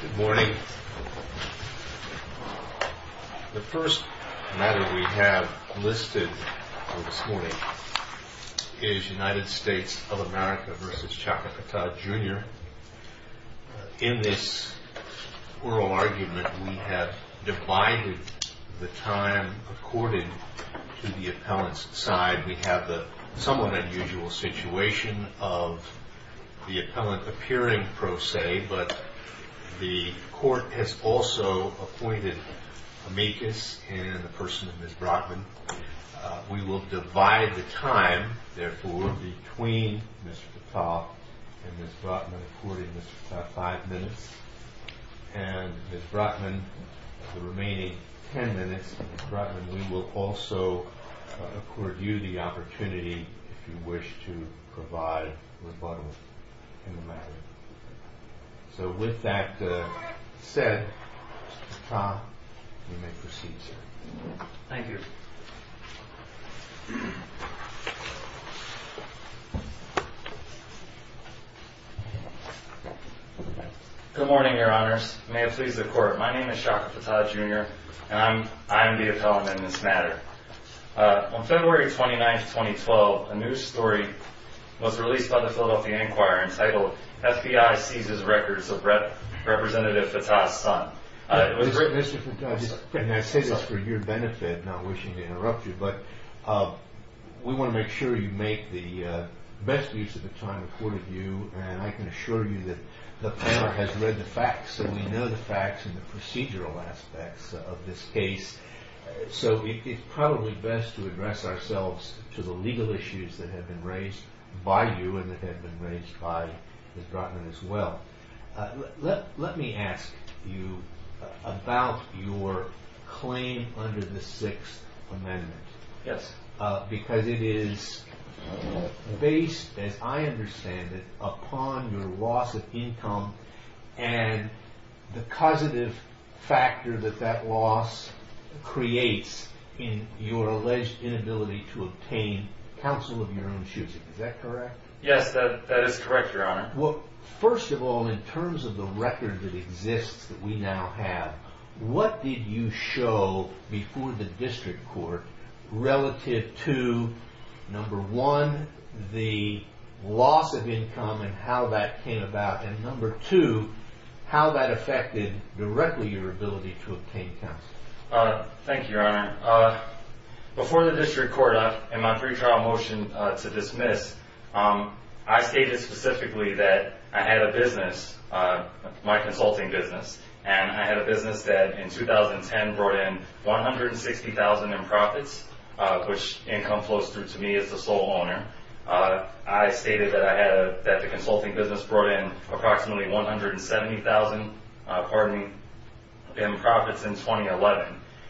Good morning. The first matter we have listed for this morning is United States of America v. Chaka Fattah Jr. In this oral argument, we have divided the time according to the appellant's side. We have the somewhat unusual situation of the appellant appearing pro se, but the court has also appointed amicus in the person of Ms. Brotman. We will divide the time, therefore, between Mr. Fattah and Ms. Brotman according to five minutes. And Ms. Brotman, the remaining ten minutes, Ms. Brotman, we will also accord you the opportunity if you wish to provide rebuttal in the matter. So with that said, Mr. Fattah, you may proceed, sir. Thank you. Good morning, Your Honors. May it please the Court, my name is Chaka Fattah Jr., and I am the appellant in this matter. On February 29, 2012, a news story was released by the Philadelphia Enquirer entitled, FBI Seizes Records of Representative Fattah's Son. Mr. Fattah, and I say this for your benefit, not wishing to interrupt you, but we want to make sure you make the best use of the time accorded to you, and I can assure you that the panel has read the facts, and we know the facts in the procedural aspects of this case. So it's probably best to address ourselves to the legal issues that have been raised by you and that have been raised by Ms. Brotman as well. Let me ask you about your claim under the Sixth Amendment. Yes. Because it is based, as I understand it, upon your loss of income and the causative factor that that loss creates in your alleged inability to obtain counsel of your own choosing. Is that correct? Yes, that is correct, Your Honor. Well, first of all, in terms of the record that exists that we now have, what did you show before the district court relative to, number one, the loss of income and how that came about, and number two, how that affected directly your ability to obtain counsel? Thank you, Your Honor. Before the district court, in my pretrial motion to dismiss, I stated specifically that I had a business, my consulting business, and I had a business that in 2010 brought in $160,000 in profits, which income flows through to me as the sole owner. I stated that the consulting business brought in approximately $170,000 in profits in 2011,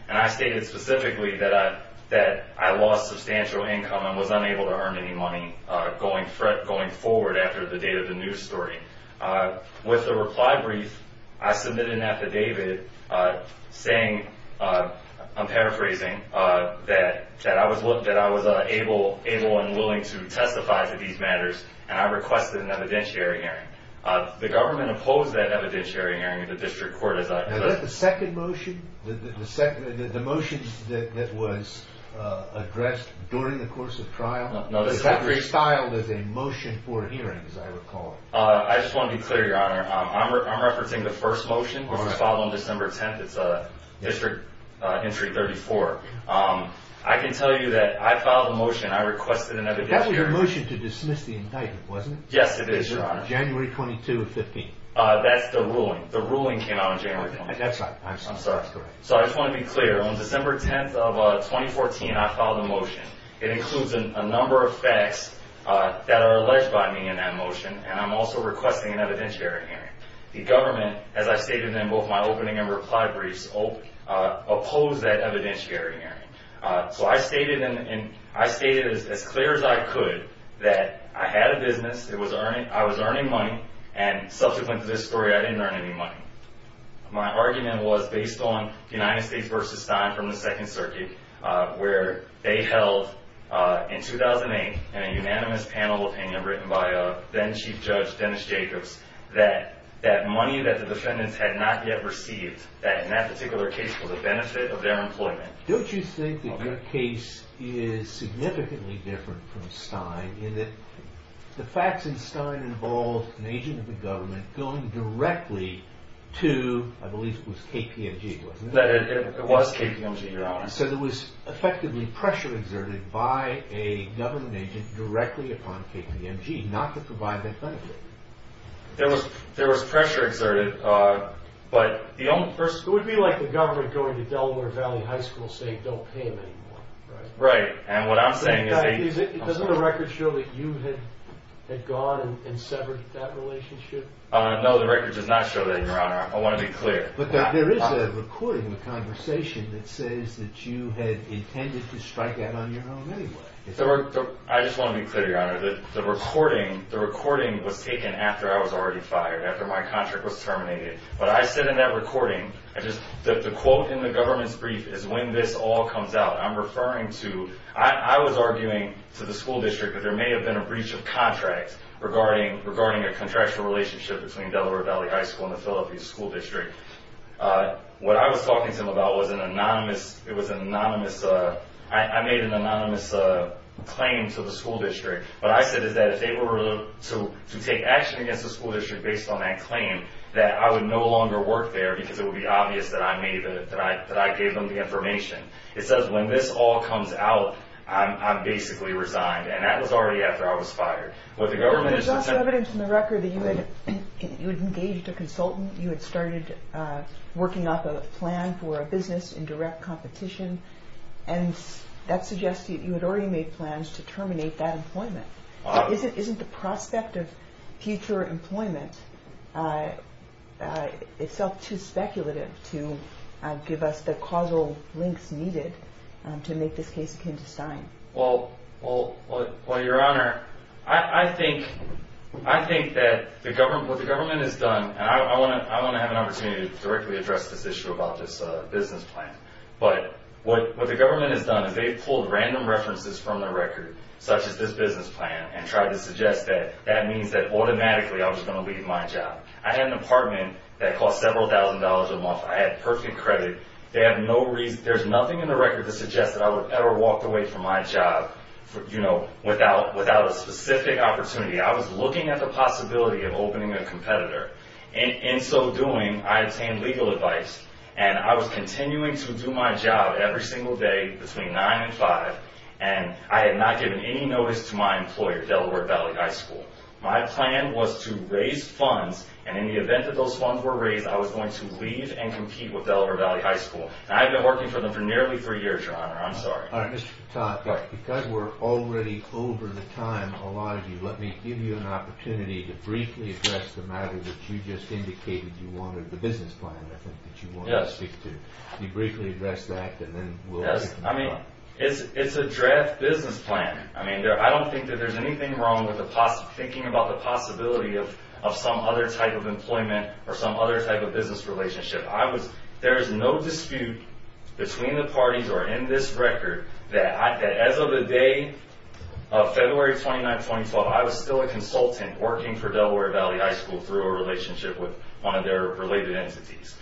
and I stated specifically that I lost substantial income and was unable to earn any money going forward after the date of the news story. With the reply brief, I submitted an affidavit saying, I'm paraphrasing, that I was able and willing to testify to these matters, and I requested an evidentiary hearing. The government opposed that evidentiary hearing in the district court. Is that the second motion, the motion that was addressed during the course of trial? It's not restyled as a motion for hearings, I recall. I just want to be clear, Your Honor. I'm referencing the first motion, which was filed on December 10th. It's District Entry 34. I can tell you that I filed a motion. I requested an evidentiary hearing. That was your motion to dismiss the indictment, wasn't it? Yes, it is, Your Honor. January 22 of 15. That's the ruling. The ruling came out on January 22. That's right. I'm sorry. I just want to be clear. On December 10th of 2014, I filed a motion. It includes a number of facts that are alleged by me in that motion, and I'm also requesting an evidentiary hearing. The government, as I stated in both my opening and reply briefs, opposed that evidentiary hearing. So I stated as clear as I could that I had a business, I was earning money, and subsequent to this story, I didn't earn any money. My argument was based on the United States v. Stein from the Second Circuit, where they held, in 2008, in a unanimous panel opinion written by then Chief Judge Dennis Jacobs, that that money that the defendants had not yet received, that in that particular case was a benefit of their employment. Don't you think that your case is significantly different from Stein in that the facts in Stein involve an agent of the government going directly to, I believe it was KPMG, wasn't it? It was KPMG, Your Honor. So there was effectively pressure exerted by a government agent directly upon KPMG not to provide that benefit. There was pressure exerted, but the only person... It would be like the government going to Delaware Valley High School saying, don't pay him anymore, right? Right, and what I'm saying is... Doesn't the record show that you had gone and severed that relationship? No, the record does not show that, Your Honor. I want to be clear. But there is a recording in the conversation that says that you had intended to strike that on your own anyway. I just want to be clear, Your Honor. The recording was taken after I was already fired, after my contract was terminated. But I said in that recording, the quote in the government's brief is, when this all comes out, I'm referring to... I was arguing to the school district that there may have been a breach of contract regarding a contractual relationship between Delaware Valley High School and the Philippines School District. What I was talking to them about was an anonymous... I made an anonymous claim to the school district. What I said is that if they were to take action against the school district based on that claim, that I would no longer work there because it would be obvious that I gave them the information. It says, when this all comes out, I'm basically resigned. And that was already after I was fired. There's also evidence in the record that you had engaged a consultant, you had started working up a plan for a business in direct competition, and that suggests that you had already made plans to terminate that employment. Isn't the prospect of future employment itself too speculative to give us the causal links needed to make this case akin to sign? Well, Your Honor, I think that what the government has done, and I want to have an opportunity to directly address this issue about this business plan, but what the government has done is they've pulled random references from the record, such as this business plan, and tried to suggest that that means that automatically I was going to leave my job. I had an apartment that cost several thousand dollars a month. I had perfect credit. There's nothing in the record that suggests that I would ever walk away from my job without a specific opportunity. I was looking at the possibility of opening a competitor. In so doing, I obtained legal advice, and I was continuing to do my job every single day between 9 and 5, and I had not given any notice to my employer, Delaware Valley High School. My plan was to raise funds, and in the event that those funds were raised, I was going to leave and compete with Delaware Valley High School. And I've been working for them for nearly three years, Your Honor. I'm sorry. All right. Mr. Patak, because we're already over the time, a lot of you, let me give you an opportunity to briefly address the matter that you just indicated you wanted, the business plan, I think, that you wanted to speak to. Can you briefly address that, and then we'll move on? Yes. I mean, it's a draft business plan. I mean, I don't think that there's anything wrong with thinking about the possibility of some other type of employment or some other type of business relationship. There is no dispute between the parties or in this record that as of the day of February 29, 2012, I was still a consultant working for Delaware Valley High School through a relationship with one of their related entities.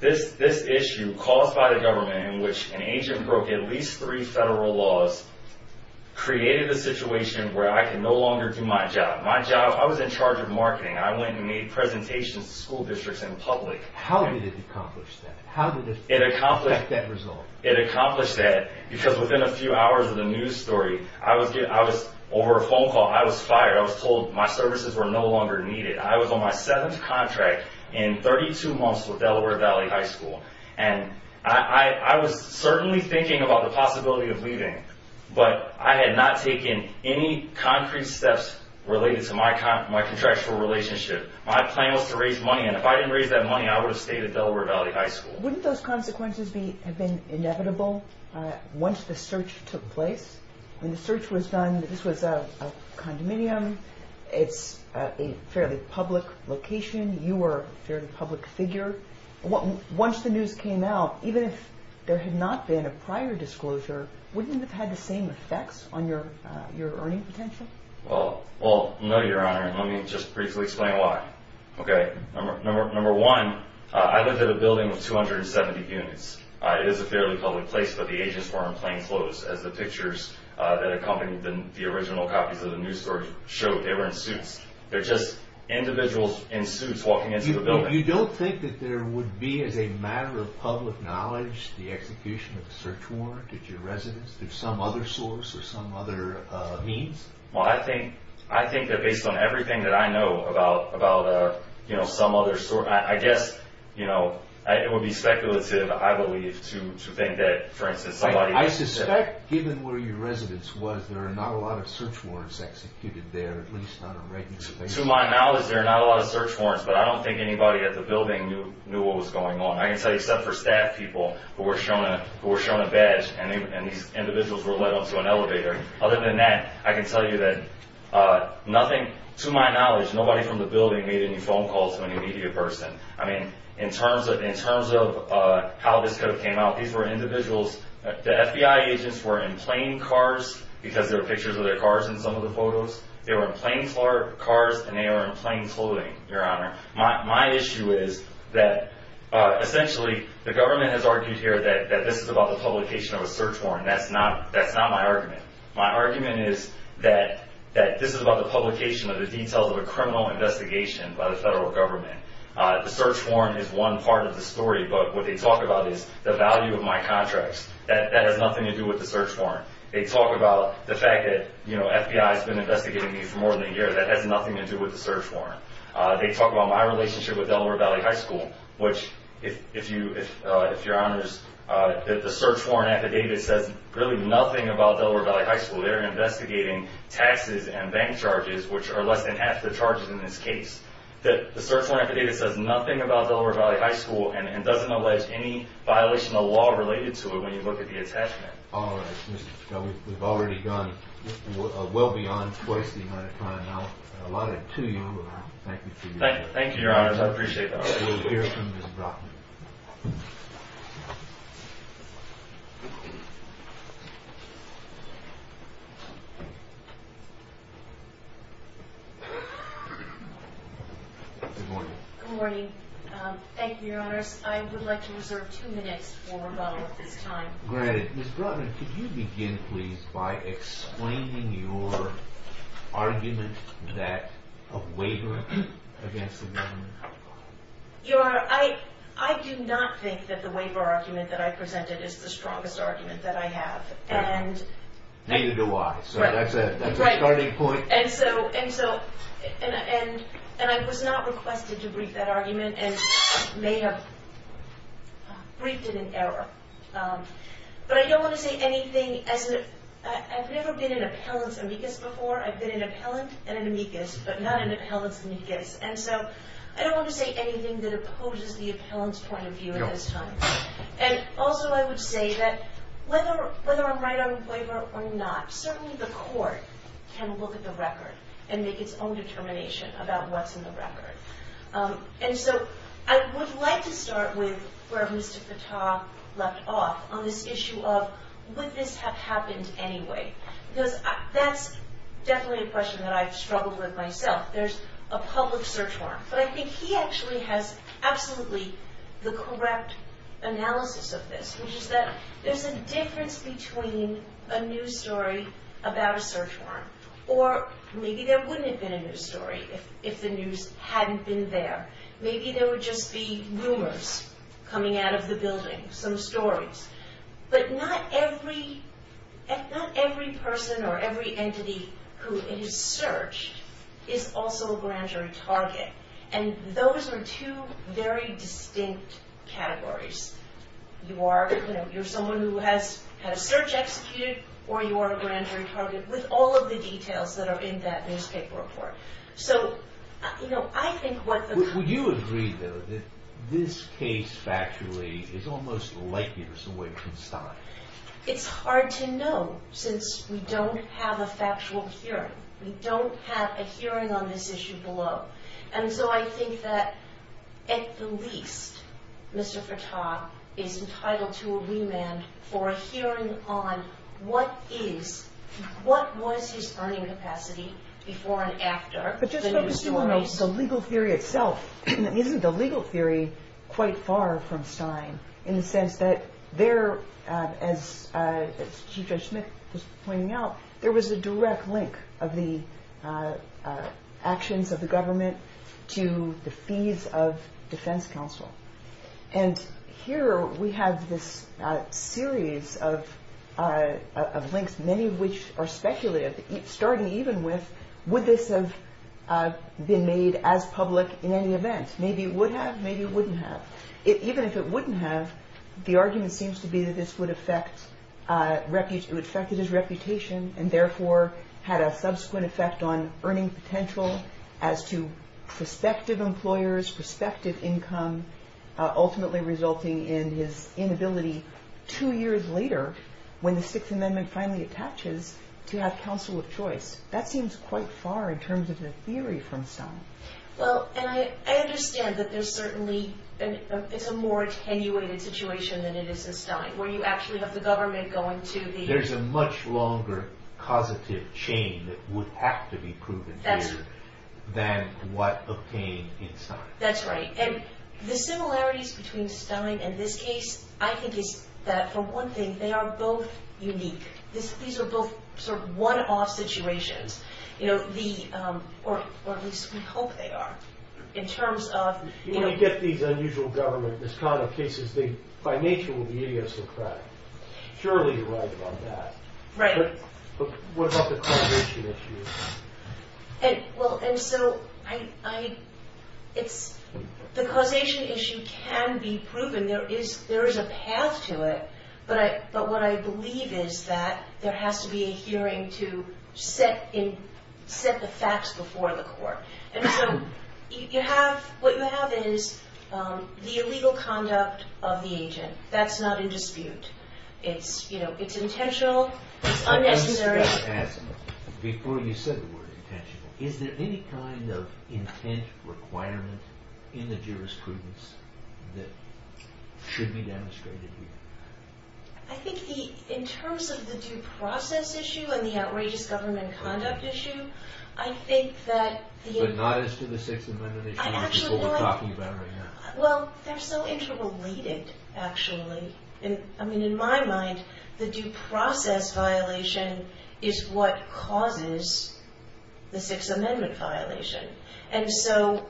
This issue caused by the government in which an agent broke at least three federal laws created a situation where I could no longer do my job. My job, I was in charge of marketing. I went and made presentations to school districts in public. How did it accomplish that? How did it get that result? It accomplished that because within a few hours of the news story, I was over a phone call. I was fired. I was told my services were no longer needed. I was on my seventh contract in 32 months with Delaware Valley High School, and I was certainly thinking about the possibility of leaving, but I had not taken any concrete steps related to my contractual relationship. My plan was to raise money, and if I didn't raise that money, I would have stayed at Delaware Valley High School. Wouldn't those consequences have been inevitable once the search took place? When the search was done, this was a condominium. It's a fairly public location. You were a fairly public figure. Once the news came out, even if there had not been a prior disclosure, wouldn't it have had the same effects on your earning potential? Well, no, Your Honor, and let me just briefly explain why. Number one, I lived in a building of 270 units. It is a fairly public place, but the agents were in plain clothes, as the pictures that accompanied the original copies of the news story showed. They were in suits. They're just individuals in suits walking into the building. You don't think that there would be, as a matter of public knowledge, the execution of a search warrant at your residence through some other source or some other means? Well, I think that based on everything that I know about some other source, I guess it would be speculative, I believe, to think that, for instance, somebody would have said that. I suspect, given where your residence was, there are not a lot of search warrants executed there, at least not on a regular basis. To my knowledge, there are not a lot of search warrants, but I don't think anybody at the building knew what was going on. I can tell you, except for staff people who were shown a badge, and these individuals were led up to an elevator. Other than that, I can tell you that nothing, to my knowledge, nobody from the building made any phone calls to any media person. I mean, in terms of how this could have came out, these were individuals. The FBI agents were in plain cars, because there are pictures of their cars in some of the photos. They were in plain cars, and they were in plain clothing, Your Honor. My issue is that, essentially, the government has argued here that this is about the publication of a search warrant. That's not my argument. My argument is that this is about the publication of the details of a criminal investigation by the federal government. The search warrant is one part of the story, but what they talk about is the value of my contracts. That has nothing to do with the search warrant. They talk about the fact that the FBI has been investigating me for more than a year. That has nothing to do with the search warrant. They talk about my relationship with Delaware Valley High School, which, if Your Honors, the search warrant affidavit says really nothing about Delaware Valley High School. They're investigating taxes and bank charges, which are less than half the charges in this case. The search warrant affidavit says nothing about Delaware Valley High School and doesn't allege any violation of law related to it when you look at the attachment. All right. We've already gone well beyond twice the amount of time. I'll allot it to you. Thank you. Thank you, Your Honors. I appreciate that. We'll hear from Ms. Brockman. Good morning. Good morning. Thank you, Your Honors. I would like to reserve two minutes for rebuttal at this time. Great. Ms. Brockman, could you begin, please, by explaining your argument that a waiver against the government... Your... I do not think that the waiver argument that I presented is the strongest argument that I have. And... Neither do I. Right. So that's a starting point. And so... And I was not requested to brief that argument and may have briefed it in error. But I don't want to say anything as if... I've never been an appellant's amicus before. I've been an appellant and an amicus, but not an appellant's amicus. And so I don't want to say anything that opposes the appellant's point of view at this time. No. And also I would say that whether I'm right on waiver or not, certainly the court can look at the record and make its own determination about what's in the record. And so I would like to start with where Mr. Fattah left off on this issue of would this have happened anyway? Because that's definitely a question that I've struggled with myself. There's a public search warrant. But I think he actually has absolutely the correct analysis of this, which is that there's a difference between a news story about a search warrant. Or maybe there wouldn't have been a news story if the news hadn't been there. Maybe there would just be rumors coming out of the building, some stories. But not every person or every entity who is searched is also a grand jury target. And those are two very distinct categories. You're someone who has had a search executed, or you are a grand jury target, with all of the details that are in that newspaper report. So, you know, I think what the- Would you agree, though, that this case factually is almost likely to have some way of constying? It's hard to know, since we don't have a factual hearing. We don't have a hearing on this issue below. And so I think that, at the least, Mr. Fattah is entitled to a remand for a hearing on what is- what was his earning capacity before and after the news story. But just focusing on the legal theory itself, isn't the legal theory quite far from Stein? In the sense that there, as Chief Judge Smith was pointing out, there was a direct link of the actions of the government to the fees of defense counsel. And here we have this series of links, many of which are speculative, starting even with, would this have been made as public in any event? Maybe it would have, maybe it wouldn't have. Even if it wouldn't have, the argument seems to be that this would affect- it would affect his reputation and therefore had a subsequent effect on earning potential as to prospective employers, prospective income, ultimately resulting in his inability two years later, when the Sixth Amendment finally attaches, to have counsel of choice. That seems quite far in terms of the theory from Stein. Well, and I understand that there's certainly- it's a more attenuated situation than it is in Stein, where you actually have the government going to the- There's a much longer causative chain that would have to be proven here than what obtained in Stein. That's right. And the similarities between Stein and this case, I think, is that for one thing, they are both unique. These are both sort of one-off situations. You know, the- or at least we hope they are, in terms of- When you get these unusual government misconduct cases, they, by nature, will be idiosyncratic. Surely you're right about that. Right. But what about the causation issue? Well, and so, I- it's- the causation issue can be proven. There is a path to it, but what I believe is that there has to be a hearing to set the facts before the court. And so, you have- what you have is the illegal conduct of the agent. That's not in dispute. It's, you know, it's intentional. It's unnecessary. Before you said the word intentional, is there any kind of intent requirement in the jurisprudence that should be demonstrated here? I think the- in terms of the due process issue and the outrageous government conduct issue, I think that the- But not as to the Sixth Amendment issue, which is what we're talking about right now. Well, they're so interrelated, actually. I mean, in my mind, the due process violation is what causes the Sixth Amendment violation. And so,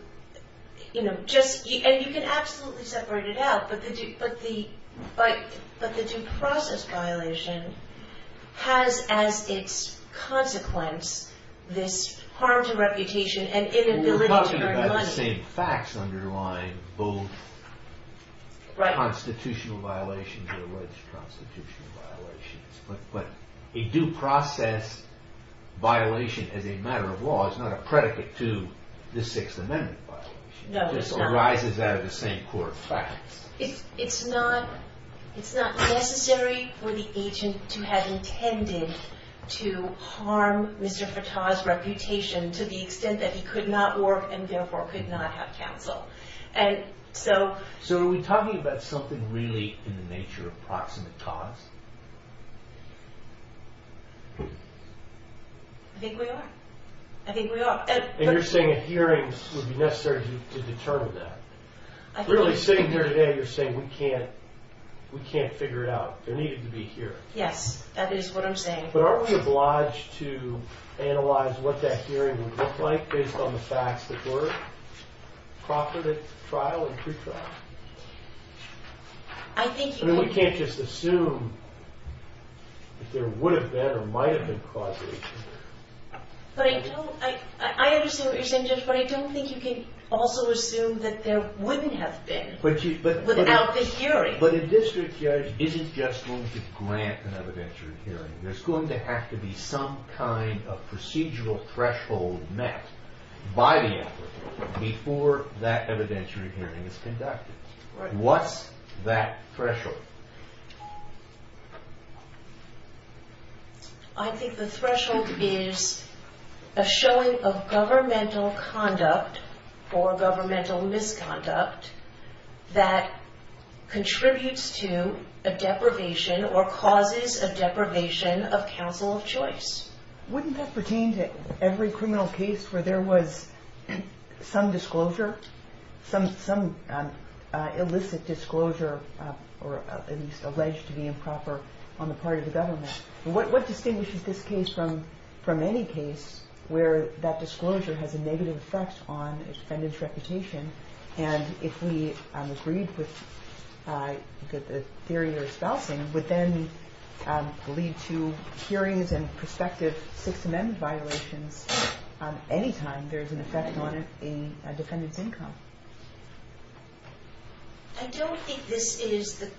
you know, just- and you can absolutely separate it out, but the due process violation has as its consequence this harm to reputation and inability to earn money. The same facts underline both constitutional violations and alleged constitutional violations. But a due process violation as a matter of law is not a predicate to the Sixth Amendment violation. No, it's not. It just arises out of the same core facts. It's not necessary for the agent to have intended to harm Mr. Fattah's reputation to the extent that he could not work and therefore could not have counsel. And so- So are we talking about something really in the nature of proximate cause? I think we are. I think we are. And you're saying a hearing would be necessary to determine that. Really, sitting here today, you're saying we can't figure it out. There needed to be a hearing. Yes, that is what I'm saying. But aren't we obliged to analyze what that hearing would look like based on the facts that were proffered at trial and pretrial? I think- I mean, we can't just assume that there would have been or might have been causation. But I don't- I understand what you're saying, Judge, but I don't think you can also assume that there wouldn't have been without the hearing. But a district judge isn't just going to grant an evidentiary hearing. There's going to have to be some kind of procedural threshold met by the effort before that evidentiary hearing is conducted. What's that threshold? I think the threshold is a showing of governmental conduct or governmental misconduct that contributes to a deprivation or causes a deprivation of counsel of choice. Wouldn't that pertain to every criminal case where there was some disclosure, some illicit disclosure or at least alleged to be improper on the part of the government? What distinguishes this case from any case where that disclosure has a negative effect on a defendant's reputation and, if we agreed with the theory you're espousing, would then lead to hearings and prospective Sixth Amendment violations any time there's an effect on a defendant's income? I don't think this is the-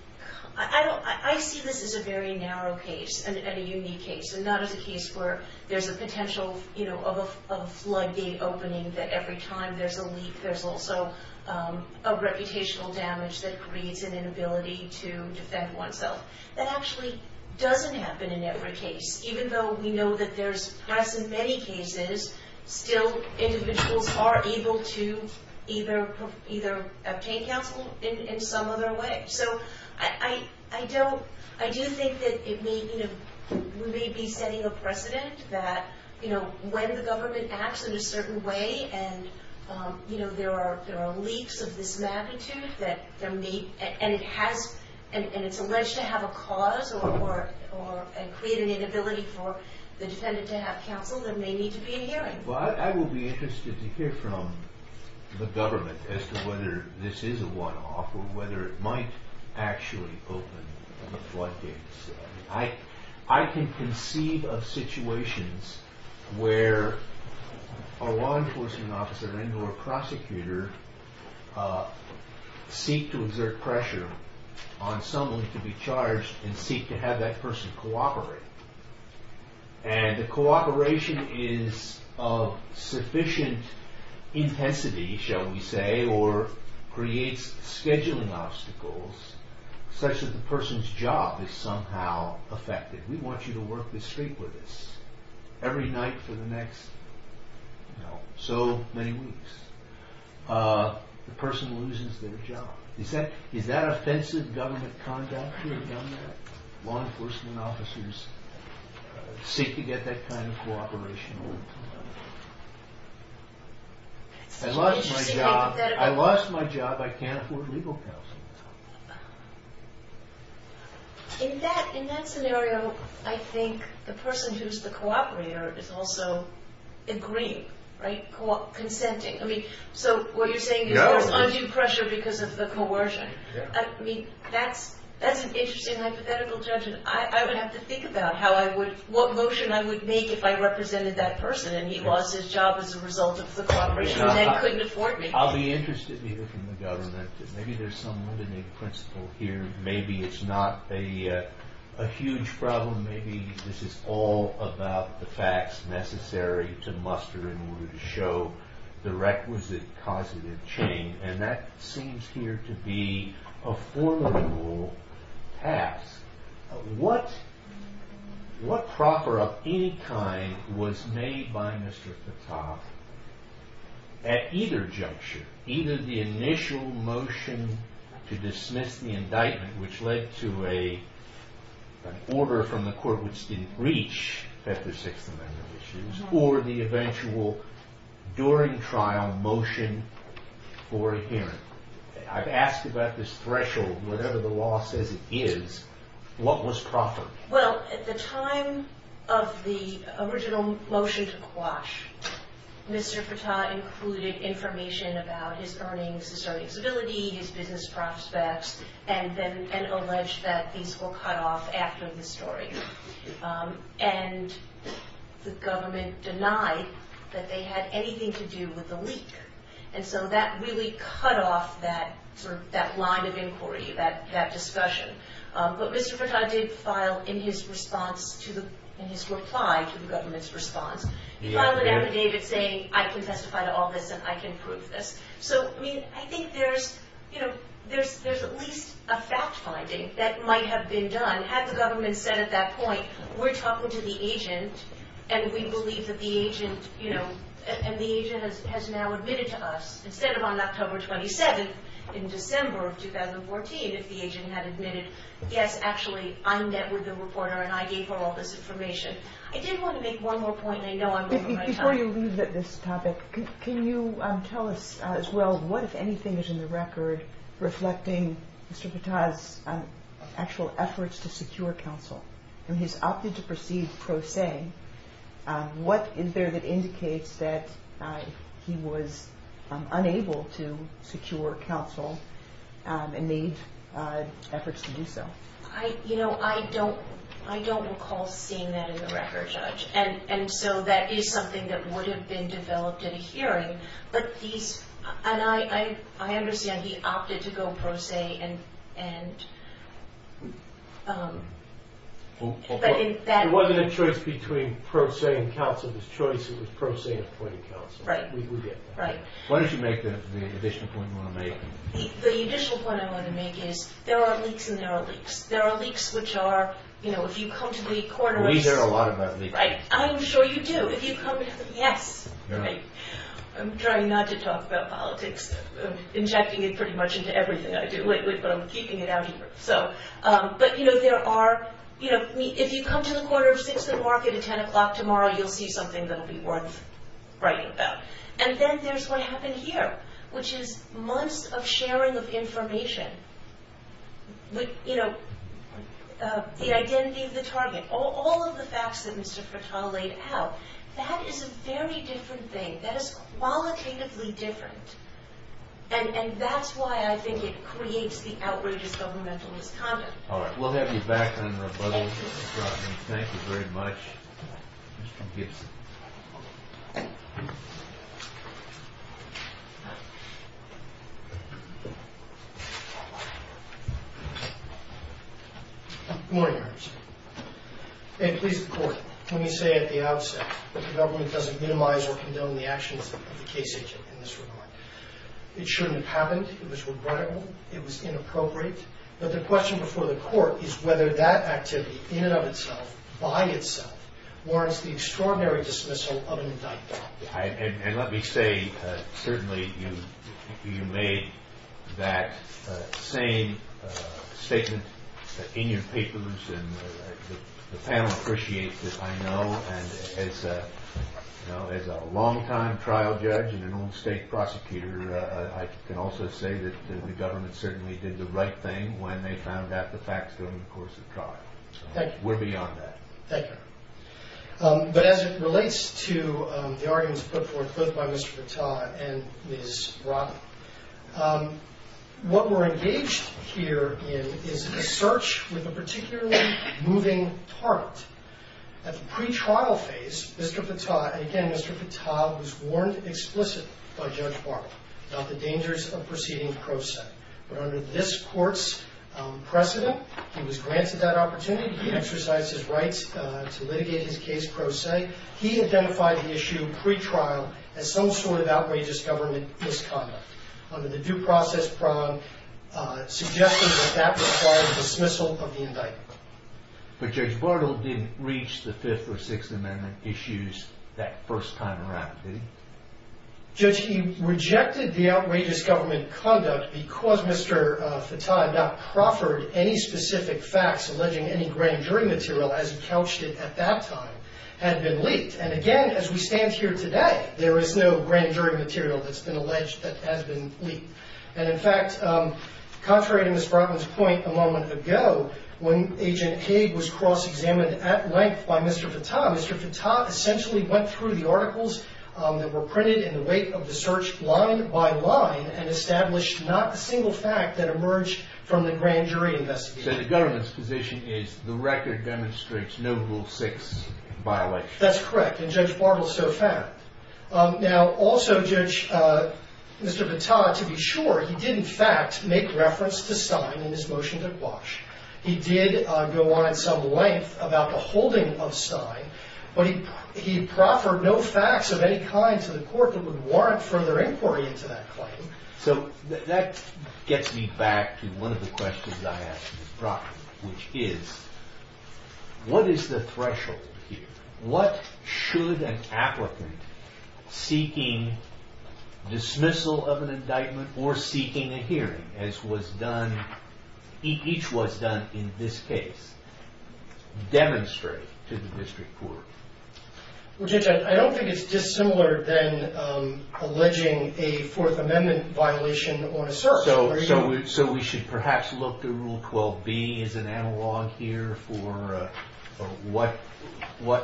I see this as a very narrow case and a unique case and not as a case where there's a potential of a floodgate opening that every time there's a leak there's also a reputational damage that creates an inability to defend oneself. That actually doesn't happen in every case, even though we know that there's, as in many cases, still individuals are able to either obtain counsel in some other way. So I do think that we may be setting a precedent that when the government acts in a certain way and there are leaks of this magnitude and it's alleged to have a cause or create an inability for the defendant to have counsel, there may need to be a hearing. I will be interested to hear from the government as to whether this is a one-off or whether it might actually open the floodgates. I can conceive of situations where a law enforcement officer and or a prosecutor seek to exert pressure on someone to be charged and seek to have that person cooperate. And the cooperation is of sufficient intensity, shall we say, or creates scheduling obstacles such that the person's job is somehow affected. We want you to work this street with us every night for the next so many weeks. The person loses their job. Is that offensive government conduct? Law enforcement officers seek to get that kind of cooperation. I lost my job. I can't afford legal counsel. In that scenario, I think the person who's the cooperator is also agreeing, right, consenting. So what you're saying is there's undue pressure because of the coercion. That's an interesting hypothetical judgment. I would have to think about what motion I would make if I represented that person and he lost his job as a result of the cooperation and couldn't afford me. I'll be interested to hear from the government. Maybe there's some limiting principle here. Maybe it's not a huge problem. Maybe this is all about the facts necessary to muster in order to show the requisite causative chain. That seems here to be a formidable task. What proper of any kind was made by Mr. Patak at either juncture, either the initial motion to dismiss the indictment, which led to an order from the court which didn't reach that the Sixth Amendment issues, or the eventual, during trial, motion for a hearing? I've asked about this threshold. Whatever the law says it is, what was proper? Well, at the time of the original motion to quash, Mr. Patak included information about his earnings, his earnings ability, his business prospects, and alleged that these were cut off after the story. And the government denied that they had anything to do with the leak. And so that really cut off that line of inquiry, that discussion. But Mr. Patak did file in his response to the, in his reply to the government's response, he filed an affidavit saying, I can testify to all this and I can prove this. So, I mean, I think there's, you know, there's at least a fact finding that might have been done had the government said at that point, we're talking to the agent, and we believe that the agent, you know, and the agent has now admitted to us. Instead of on October 27th in December of 2014, if the agent had admitted, yes, actually, I met with the reporter and I gave her all this information. I did want to make one more point, and I know I'm running out of time. Before you leave at this topic, can you tell us as well, what, if anything, is in the record reflecting Mr. Patak's actual efforts to secure counsel? I mean, he's opted to proceed pro se. What is there that indicates that he was unable to secure counsel and made efforts to do so? You know, I don't recall seeing that in the record, Judge. And so that is something that would have been developed in a hearing. But he's, and I understand he opted to go pro se and, but in that- It wasn't a choice between pro se and counsel. It was choice, it was pro se and appointing counsel. Right. We get that. Why don't you make the additional point you want to make. The additional point I want to make is there are leaks and there are leaks. There are leaks which are, you know, if you come to the coroner's- We hear a lot about leaks. I'm sure you do. Yes. I'm trying not to talk about politics. Injecting it pretty much into everything I do lately, but I'm keeping it out here. But, you know, there are, you know, if you come to the coroner's at 6 o'clock at 10 o'clock tomorrow, you'll see something that will be worth writing about. And then there's what happened here, which is months of sharing of information. You know, the identity of the target. All of the facts that Mr. Fattah laid out, that is a very different thing. That is qualitatively different. And that's why I think it creates the outrageous governmental misconduct. All right. We'll have you back on rebuttal. Thank you. Thank you very much, Mr. Gibson. Good morning, Your Honor. May it please the Court. Let me say at the outset that the government doesn't minimize or condone the actions of the case agent in this regard. It shouldn't have happened. It was regrettable. It was inappropriate. But the question before the Court is whether that activity in and of itself, by itself, warrants the extraordinary dismissal of an indictment. And let me say, certainly, you made that same statement in your papers, and the panel appreciates it, I know. And as a longtime trial judge and an old state prosecutor, I can also say that the government certainly did the right thing when they found out the facts during the course of trial. Thank you. We're beyond that. Thank you. But as it relates to the arguments put forth both by Mr. Patah and Ms. Robin, what we're engaged here in is a search with a particularly moving target. At the pretrial phase, Mr. Patah, again, Mr. Patah was warned explicitly by Judge Barber about the dangers of proceeding pro se. But under this Court's precedent, he was granted that opportunity. He exercised his rights to litigate his case pro se. He identified the issue pretrial as some sort of outrageous government misconduct under the due process prong, suggesting that that was part of the dismissal of the indictment. But Judge Bartle didn't reach the Fifth or Sixth Amendment issues that first time around, did he? Judge, he rejected the outrageous government conduct because Mr. Patah had not proffered any specific facts alleging any grand jury material as he couched it at that time had been leaked. And, again, as we stand here today, there is no grand jury material that's been alleged that has been leaked. And, in fact, contrary to Ms. Robin's point a moment ago, when Agent Haig was cross-examined at length by Mr. Patah, Mr. Patah essentially went through the articles that were printed in the wake of the search line by line and established not a single fact that emerged from the grand jury investigation. So the government's position is the record demonstrates no Rule 6 violation. That's correct, and Judge Bartle so found. Now, also, Judge, Mr. Patah, to be sure, he did, in fact, make reference to Stein in his motion to Quash. He did go on at some length about the holding of Stein. But he proffered no facts of any kind to the court that would warrant further inquiry into that claim. So that gets me back to one of the questions that I asked Ms. Proffitt, which is, what is the threshold here? What should an applicant seeking dismissal of an indictment or seeking a hearing, as was done, each was done in this case, demonstrate to the district court? Well, Judge, I don't think it's dissimilar than alleging a Fourth Amendment violation on a search. So we should perhaps look to Rule 12b as an analog here for what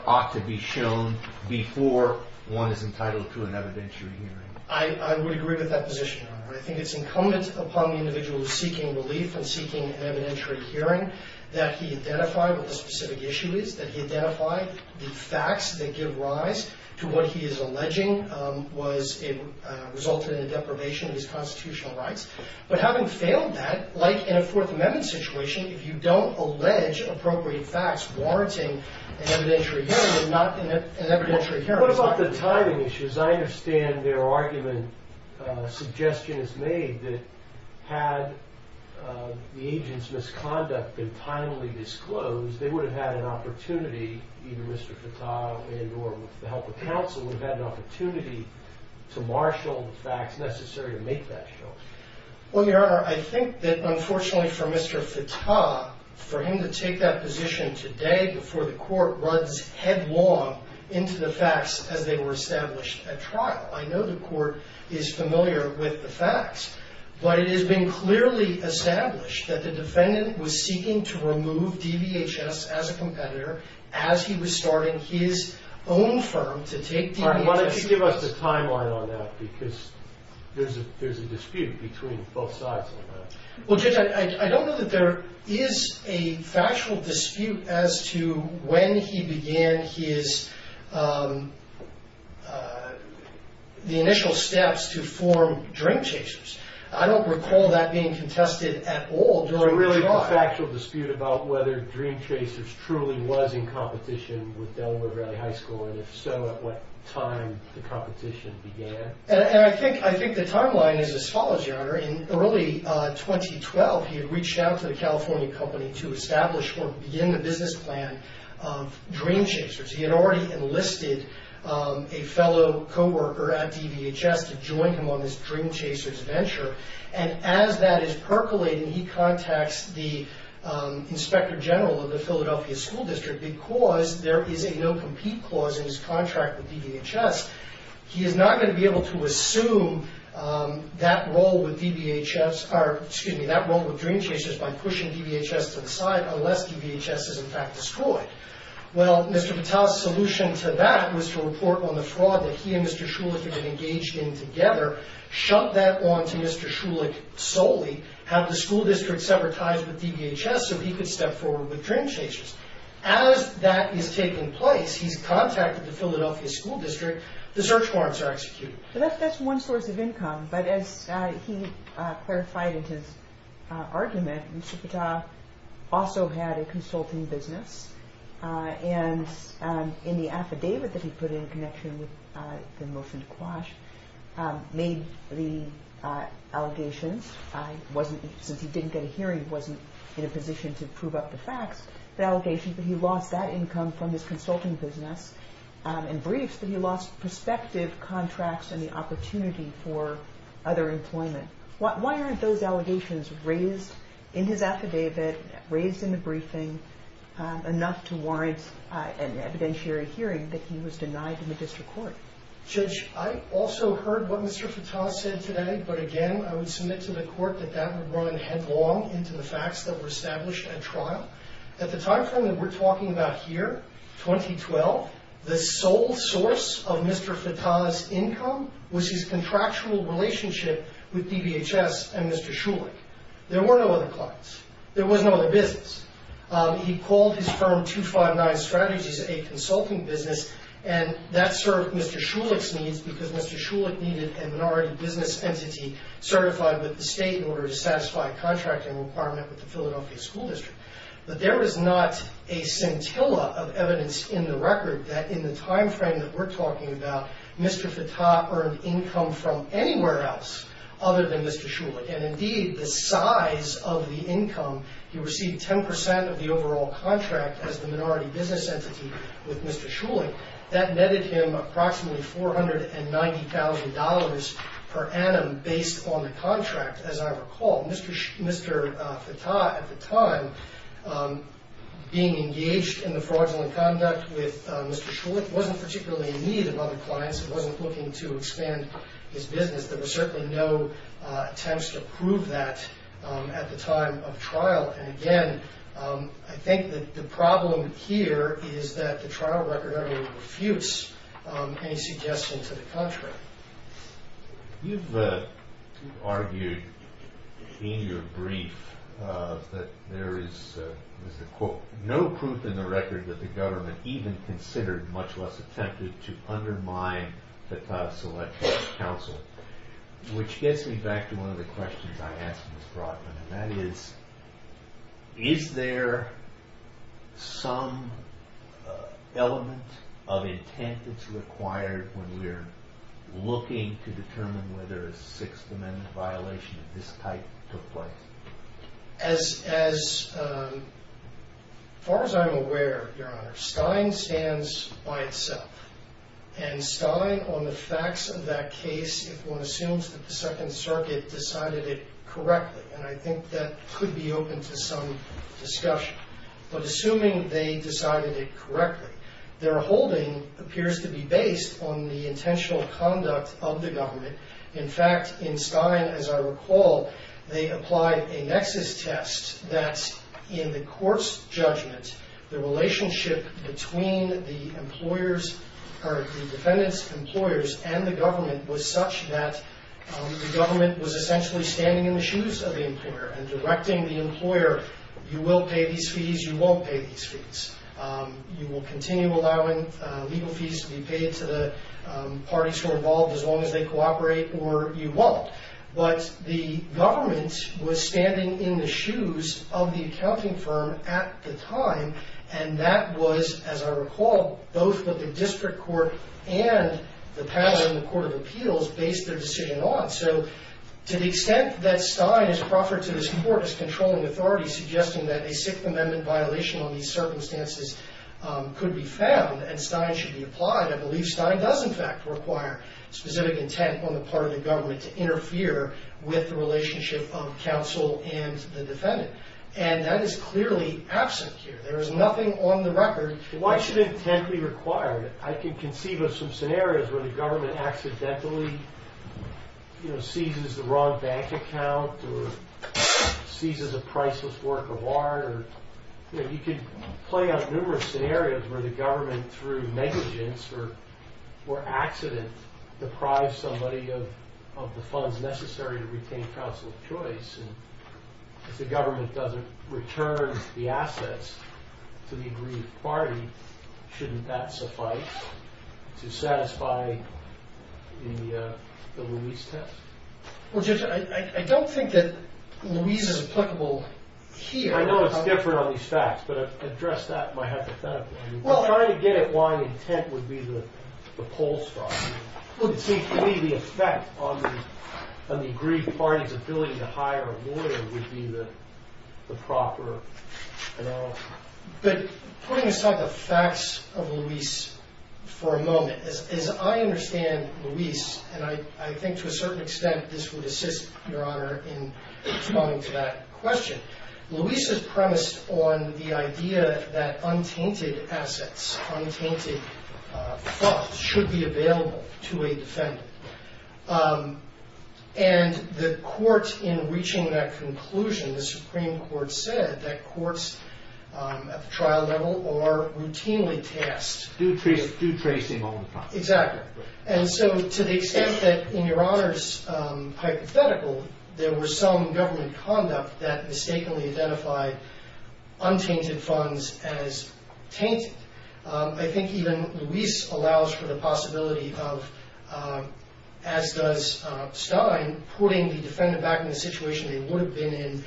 ought to be shown before one is entitled to an evidentiary hearing. I would agree with that position, Your Honor. I think it's incumbent upon the individual seeking relief and seeking an evidentiary hearing that he identify what the specific issue is, that he identify the facts that give rise to what he is alleging resulted in the deprivation of his constitutional rights. But having failed that, like in a Fourth Amendment situation, if you don't allege appropriate facts warranting an evidentiary hearing, you're not in an evidentiary hearing. What about the timing issues? I understand their argument, suggestion is made that had the agent's misconduct been timely disclosed, they would have had an opportunity, either Mr. Fattah and or with the help of counsel, would have had an opportunity to marshal the facts necessary to make that choice. Well, Your Honor, I think that unfortunately for Mr. Fattah, for him to take that position today before the court runs headlong into the facts as they were established at trial, but it has been clearly established that the defendant was seeking to remove DVHS as a competitor as he was starting his own firm to take DVHS. All right, why don't you give us the timeline on that, because there's a dispute between both sides on that. Well, Judge, I don't know that there is a factual dispute as to when he began the initial steps to form Dream Chasers. I don't recall that being contested at all during the trial. Is there really a factual dispute about whether Dream Chasers truly was in competition with Delaware Valley High School, and if so, at what time the competition began? And I think the timeline is as follows, Your Honor. In early 2012, he had reached out to the California company to establish or begin the business plan of Dream Chasers. He had already enlisted a fellow coworker at DVHS to join him on this Dream Chasers venture, and as that is percolating, he contacts the inspector general of the Philadelphia School District because there is a no-compete clause in his contract with DVHS. He is not going to be able to assume that role with Dream Chasers by pushing DVHS to the side unless DVHS is in fact destroyed. Well, Mr. Vitale's solution to that was to report on the fraud that he and Mr. Shulich had been engaged in together, shut that on to Mr. Shulich solely, have the school district sever ties with DVHS so he could step forward with Dream Chasers. As that is taking place, he's contacted the Philadelphia School District, the search warrants are executed. That's one source of income, but as he clarified in his argument, Mr. Vitale also had a consulting business, and in the affidavit that he put in in connection with the motion to quash made the allegations, since he didn't get a hearing, he wasn't in a position to prove up the facts, the allegations, that he lost that income from his consulting business and briefs, that he lost prospective contracts and the opportunity for other employment. Why aren't those allegations raised in his affidavit, raised in the briefing, enough to warrant an evidentiary hearing that he was denied in the district court? Judge, I also heard what Mr. Vitale said today, but again, I would submit to the court that that would run headlong into the facts that were established at trial. At the time frame that we're talking about here, 2012, the sole source of Mr. Vitale's income was his contractual relationship with DVHS and Mr. Shulich. There were no other clients. There was no other business. He called his firm 259 Strategies a consulting business, and that served Mr. Shulich's needs, because Mr. Shulich needed a minority business entity certified with the state in order to satisfy a contracting requirement with the Philadelphia School District. But there was not a scintilla of evidence in the record that in the time frame that we're talking about, Mr. Vitale earned income from anywhere else other than Mr. Shulich, and indeed the size of the income, he received 10% of the overall contract as the minority business entity with Mr. Shulich. That netted him approximately $490,000 per annum based on the contract, as I recall. Mr. Vitale at the time, being engaged in the fraudulent conduct with Mr. Shulich, wasn't particularly in need of other clients and wasn't looking to expand his business. There were certainly no attempts to prove that at the time of trial. And again, I think that the problem here is that the trial record would refuse any suggestion to the contrary. You've argued in your brief that there is no proof in the record that the government even considered, much less attempted, to undermine Vitale's selection of counsel. Which gets me back to one of the questions I asked Ms. Brodman, and that is, is there some element of intent that's required when we're looking to determine whether a Sixth Amendment violation of this type took place? As far as I'm aware, Your Honor, Stein stands by itself. And Stein, on the facts of that case, if one assumes that the Second Circuit decided it correctly, and I think that could be open to some discussion. But assuming they decided it correctly, their holding appears to be based on the intentional conduct of the government. In fact, in Stein, as I recall, they applied a nexus test that in the court's judgment, the relationship between the defendant's employers and the government was such that the government was essentially standing in the shoes of the employer and directing the employer, you will pay these fees, you won't pay these fees. You will continue allowing legal fees to be paid to the parties who are involved as long as they cooperate, or you won't. But the government was standing in the shoes of the accounting firm at the time, and that was, as I recall, both the District Court and the panel in the Court of Appeals based their decision on. So to the extent that Stein is proffered to this Court as controlling authority, suggesting that a Sixth Amendment violation on these circumstances could be found and Stein should be applied, I believe Stein does in fact require specific intent on the part of the government to interfere with the relationship of counsel and the defendant. And that is clearly absent here. There is nothing on the record. Why should intent be required? I can conceive of some scenarios where the government accidentally seizes the wrong bank account or seizes a priceless work of art. You could play out numerous scenarios where the government, through negligence or accident, deprives somebody of the funds necessary to retain counsel of choice. If the government doesn't return the assets to the agreed party, shouldn't that suffice to satisfy the Louise test? Well, Judge, I don't think that Louise is applicable here. I know it's different on these facts, but address that hypothetically. I'm trying to get at why intent would be the pulse for us. It seems to me the effect on the agreed party's ability to hire a lawyer would be the proper analysis. But putting aside the facts of Louise for a moment, as I understand Louise, and I think to a certain extent this would assist, Your Honor, in responding to that question, Louise is premised on the idea that untainted assets, untainted funds, should be available to a defendant. And the court, in reaching that conclusion, the Supreme Court said that courts at the trial level are routinely tasked. Due tracing all the time. Exactly. And so to the extent that, in Your Honor's hypothetical, there were some government conduct that mistakenly identified untainted funds as tainted, I think even Louise allows for the possibility of, as does Stein, putting the defendant back in the situation they would have been in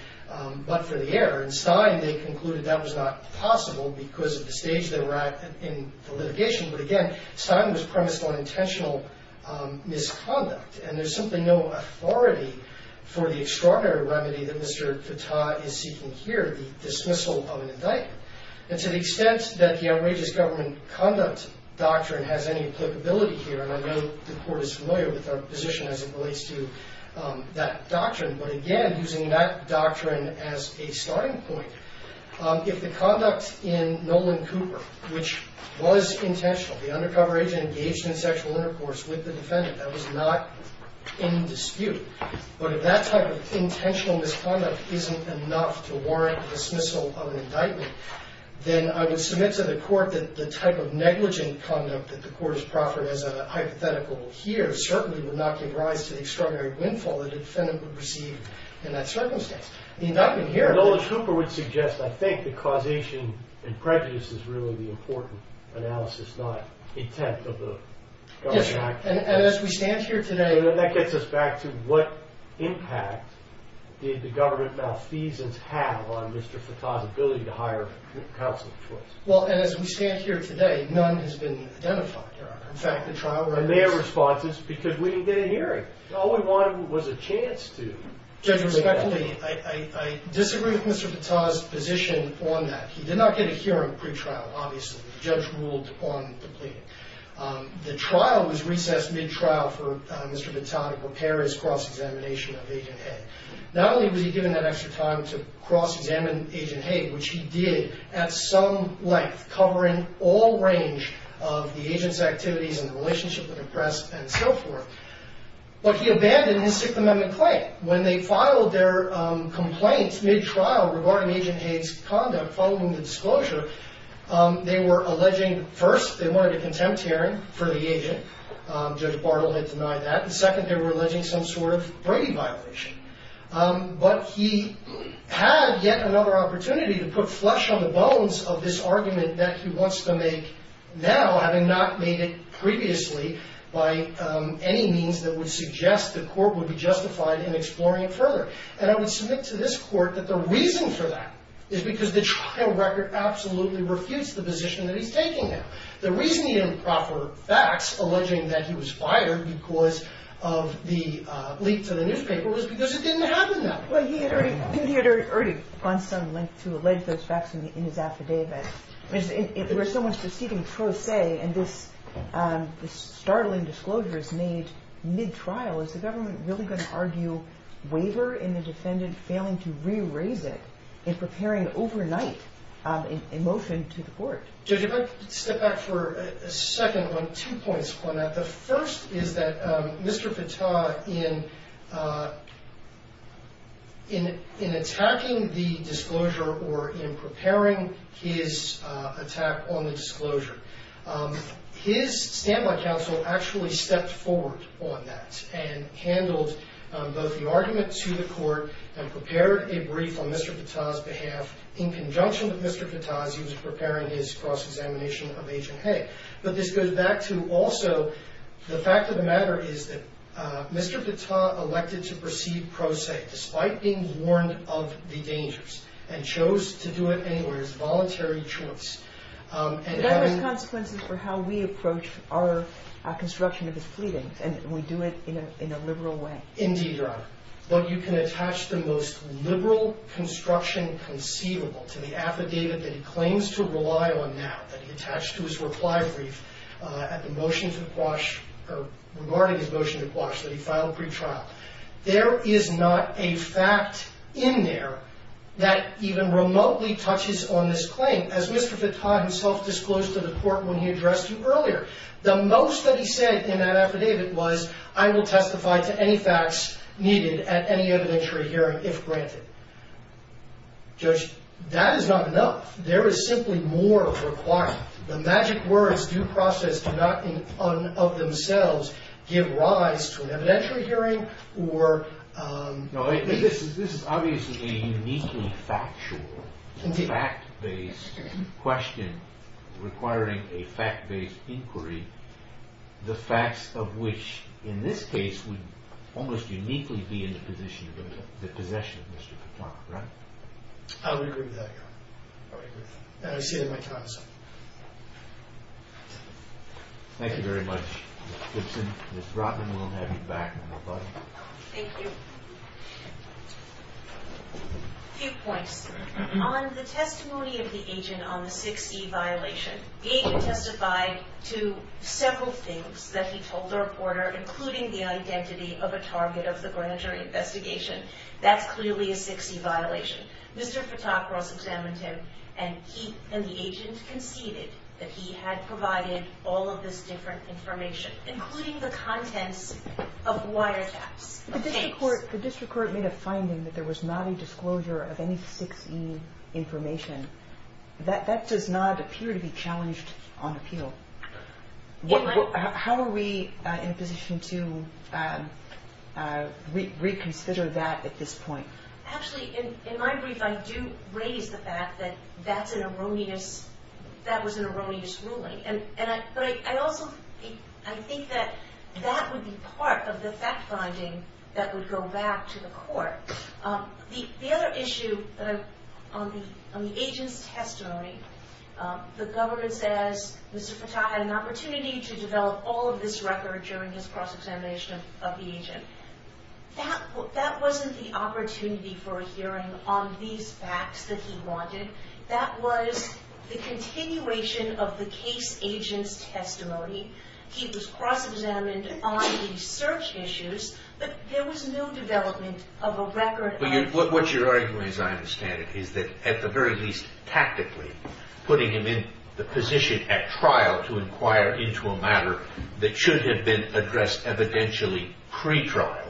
but for the error. And Stein, they concluded that was not possible because of the stage they were at in the litigation. But again, Stein was premised on intentional misconduct. And there's simply no authority for the extraordinary remedy that Mr. Fattah is seeking here, the dismissal of an indictment. And to the extent that the outrageous government conduct doctrine has any applicability here, and I know the court is familiar with our position as it relates to that doctrine, but again, using that doctrine as a starting point, if the conduct in Nolan Cooper, which was intentional, the undercover agent engaged in sexual intercourse with the defendant, that was not in dispute. But if that type of intentional misconduct isn't enough to warrant the dismissal of an indictment, then I would submit to the court that the type of negligent conduct that the court has proffered as a hypothetical here certainly would not give rise to the extraordinary windfall the defendant would receive in that circumstance. The indictment here. Nolan Cooper would suggest, I think, that causation and prejudice is really the most important analysis, not intent of the government. Yes, sir. And as we stand here today. That gets us back to what impact did the government malfeasance have on Mr. Fattah's ability to hire counsel of choice? Well, and as we stand here today, none has been identified, Your Honor. In fact, the trial. And their response is, because we didn't get a hearing. All we wanted was a chance to. Judge, respectfully, I disagree with Mr. Fattah's position on that. He did not get a hearing pre-trial, obviously. The judge ruled on the plea. The trial was recessed mid-trial for Mr. Fattah to prepare his cross-examination of Agent Hay. Not only was he given that extra time to cross-examine Agent Hay, which he did at some length, covering all range of the agent's activities and the relationship with the press and so forth, but he abandoned his Sixth Amendment claim. When they filed their complaints mid-trial regarding Agent Hay's conduct following the disclosure, they were alleging, first, they wanted a contempt hearing for the agent. Judge Bartle had denied that. And second, they were alleging some sort of Brady violation. But he had yet another opportunity to put flesh on the bones of this argument that he wants to make now, having not made it previously by any means that would suggest the court would be justified in exploring it further. And I would submit to this court that the reason for that is because the trial record absolutely refutes the position that he's taking now. The reason he didn't proffer facts alleging that he was fired because of the leak to the newspaper was because it didn't happen then. Well, he had already gone some length to allege those facts in his affidavit. There was so much proceeding pro se, and this startling disclosure is made mid-trial. Is the government really going to argue waiver in the defendant failing to re-raise it in preparing overnight a motion to the court? Judge, if I could step back for a second on two points on that. The first is that Mr. Fatah, in attacking the disclosure or in preparing his attack on the disclosure, his standby counsel actually stepped forward on that and handled both the argument to the court and prepared a brief on Mr. Fatah's behalf in conjunction with Mr. Fatah as he was preparing his cross-examination of Agent Hay. But this goes back to also the fact of the matter is that Mr. Fatah elected to proceed pro se despite being warned of the dangers and chose to do it anyway. But that has consequences for how we approach our construction of his pleadings, and we do it in a liberal way. Indeed, Your Honor. But you can attach the most liberal construction conceivable to the affidavit that he claims to rely on now, that he attached to his reply brief regarding his motion to Quash that he filed pre-trial. There is not a fact in there that even remotely touches on this claim, as Mr. Fatah himself disclosed to the court when he addressed you earlier. The most that he said in that affidavit was, I will testify to any facts needed at any evidentiary hearing if granted. Judge, that is not enough. There is simply more required. The magic words due process do not in and of themselves give rise to an This is obviously a uniquely factual, fact-based question requiring a fact-based inquiry, the facts of which in this case would almost uniquely be in the position of the possession of Mr. Fatah, right? I would agree with that, Your Honor. I see it in my time, sir. Thank you very much, Mr. Gibson. Ms. Rotman will have you back, my buddy. Thank you. A few points. On the testimony of the agent on the 6E violation, the agent testified to several things that he told the reporter, including the identity of a target of the grand jury investigation. That's clearly a 6E violation. Mr. Fatah cross-examined him, and he and the agent conceded that he had provided all of this different information, including the contents of wiretaps. The district court made a finding that there was not a disclosure of any 6E information. That does not appear to be challenged on appeal. How are we in a position to reconsider that at this point? Actually, in my brief, I do raise the fact that that was an erroneous ruling. But I also think that that would be part of the fact-finding that would go back to the court. The other issue on the agent's testimony, the government says Mr. Fatah had an opportunity to develop all of this record during his cross-examination of the agent. That wasn't the opportunity for a hearing on these facts that he wanted. That was the continuation of the case agent's testimony. He was cross-examined on the search issues, but there was no development of a record. What you're arguing, as I understand it, is that at the very least, tactically, putting him in the position at trial to inquire into a matter that should have been addressed evidentially pre-trial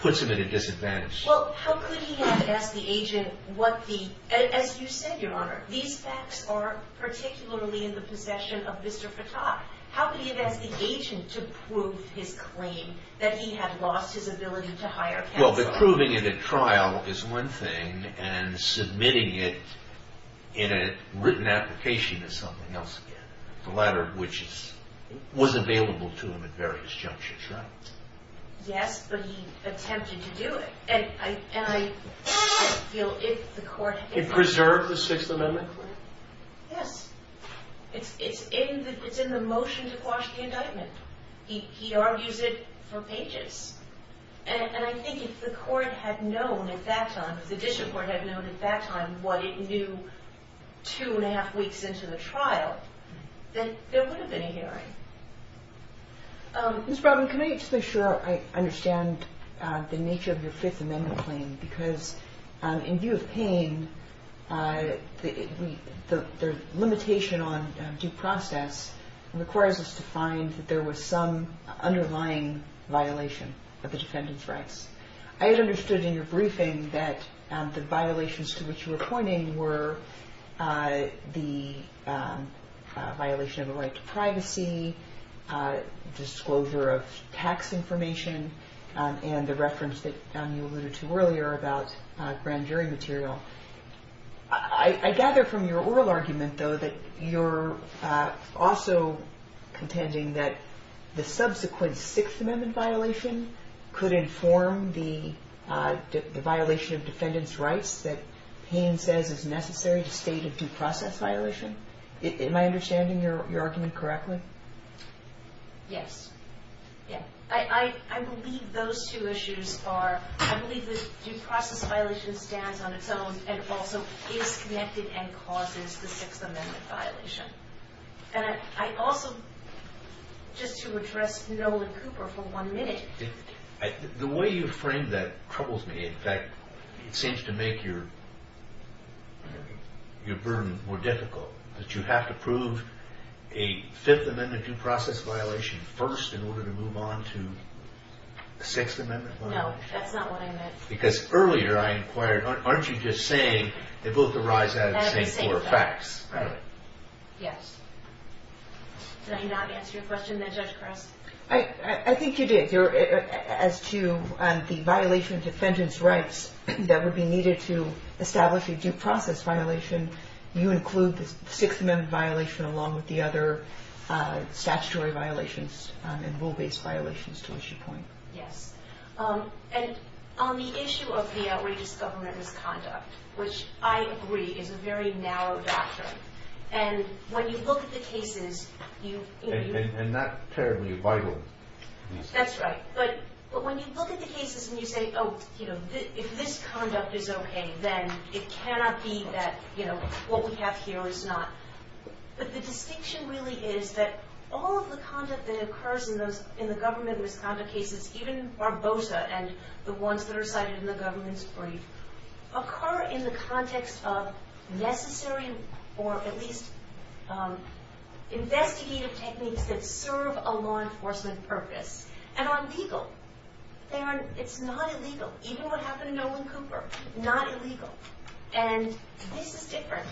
puts him at a disadvantage. Well, how could he have asked the agent what the... As you said, Your Honor, these facts are particularly in the possession of Mr. Fatah. How could he have asked the agent to prove his claim that he had lost his ability to hire counsel? Well, proving it at trial is one thing, and submitting it in a written application is something else again, the latter of which was available to him at various junctions, right? Yes, but he attempted to do it, and I feel if the court had... It preserved the Sixth Amendment claim? Yes. It's in the motion to quash the indictment. He argues it for pages, and I think if the court had known at that time, if the district court had known at that time what it knew two and a half weeks into the trial, then there would have been a hearing. Ms. Brownman, can I just make sure I understand the nature of your Fifth Amendment claim? Because in view of pain, the limitation on due process requires us to find that there was some underlying violation of the defendant's rights. I had understood in your briefing that the violations to which you were pointing were the violation of a right to privacy, disclosure of tax information, and the reference that you alluded to earlier about grand jury material. I gather from your oral argument, though, that you're also contending that the subsequent Sixth Amendment violation could inform the violation of defendant's rights that Payne says is necessary to state a due process violation. Am I understanding your argument correctly? Yes. I believe those two issues are... I believe the due process violation stands on its own and also is connected and causes the Sixth Amendment violation. And I also, just to address Nolan Cooper for one minute... The way you frame that troubles me. In fact, it seems to make your burden more difficult. That you have to prove a Fifth Amendment due process violation first in order to move on to a Sixth Amendment violation? No, that's not what I meant. Because earlier I inquired, aren't you just saying they both arise out of the same four facts? Right. Yes. Did I not answer your question then, Judge Kress? I think you did. As to the violation of defendant's rights that would be needed to establish a due process violation, you include the Sixth Amendment violation along with the other statutory violations and rule-based violations to which you point. Yes. And on the issue of the outrageous government misconduct, which I agree is a very narrow doctrine. And when you look at the cases... And not terribly vital. That's right. But when you look at the cases and you say, oh, if this conduct is okay, then it cannot be that what we have here is not... But the distinction really is that all of the conduct that occurs in the government misconduct cases, even Barbosa and the ones that are cited in the government's brief, occur in the context of necessary or at least investigative techniques that serve a law enforcement purpose. And are legal. It's not illegal. Even what happened to Nolan Cooper, not illegal. And this is different.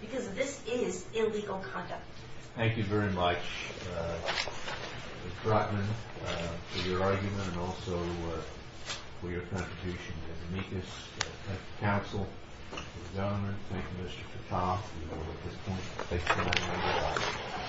Because this is illegal conduct. Thank you very much, Ms. Brotman, for your argument and also for your contribution to the amicus at the council. Mr. Governor, thank you, Mr. Patan. We will, at this point, take time to get out.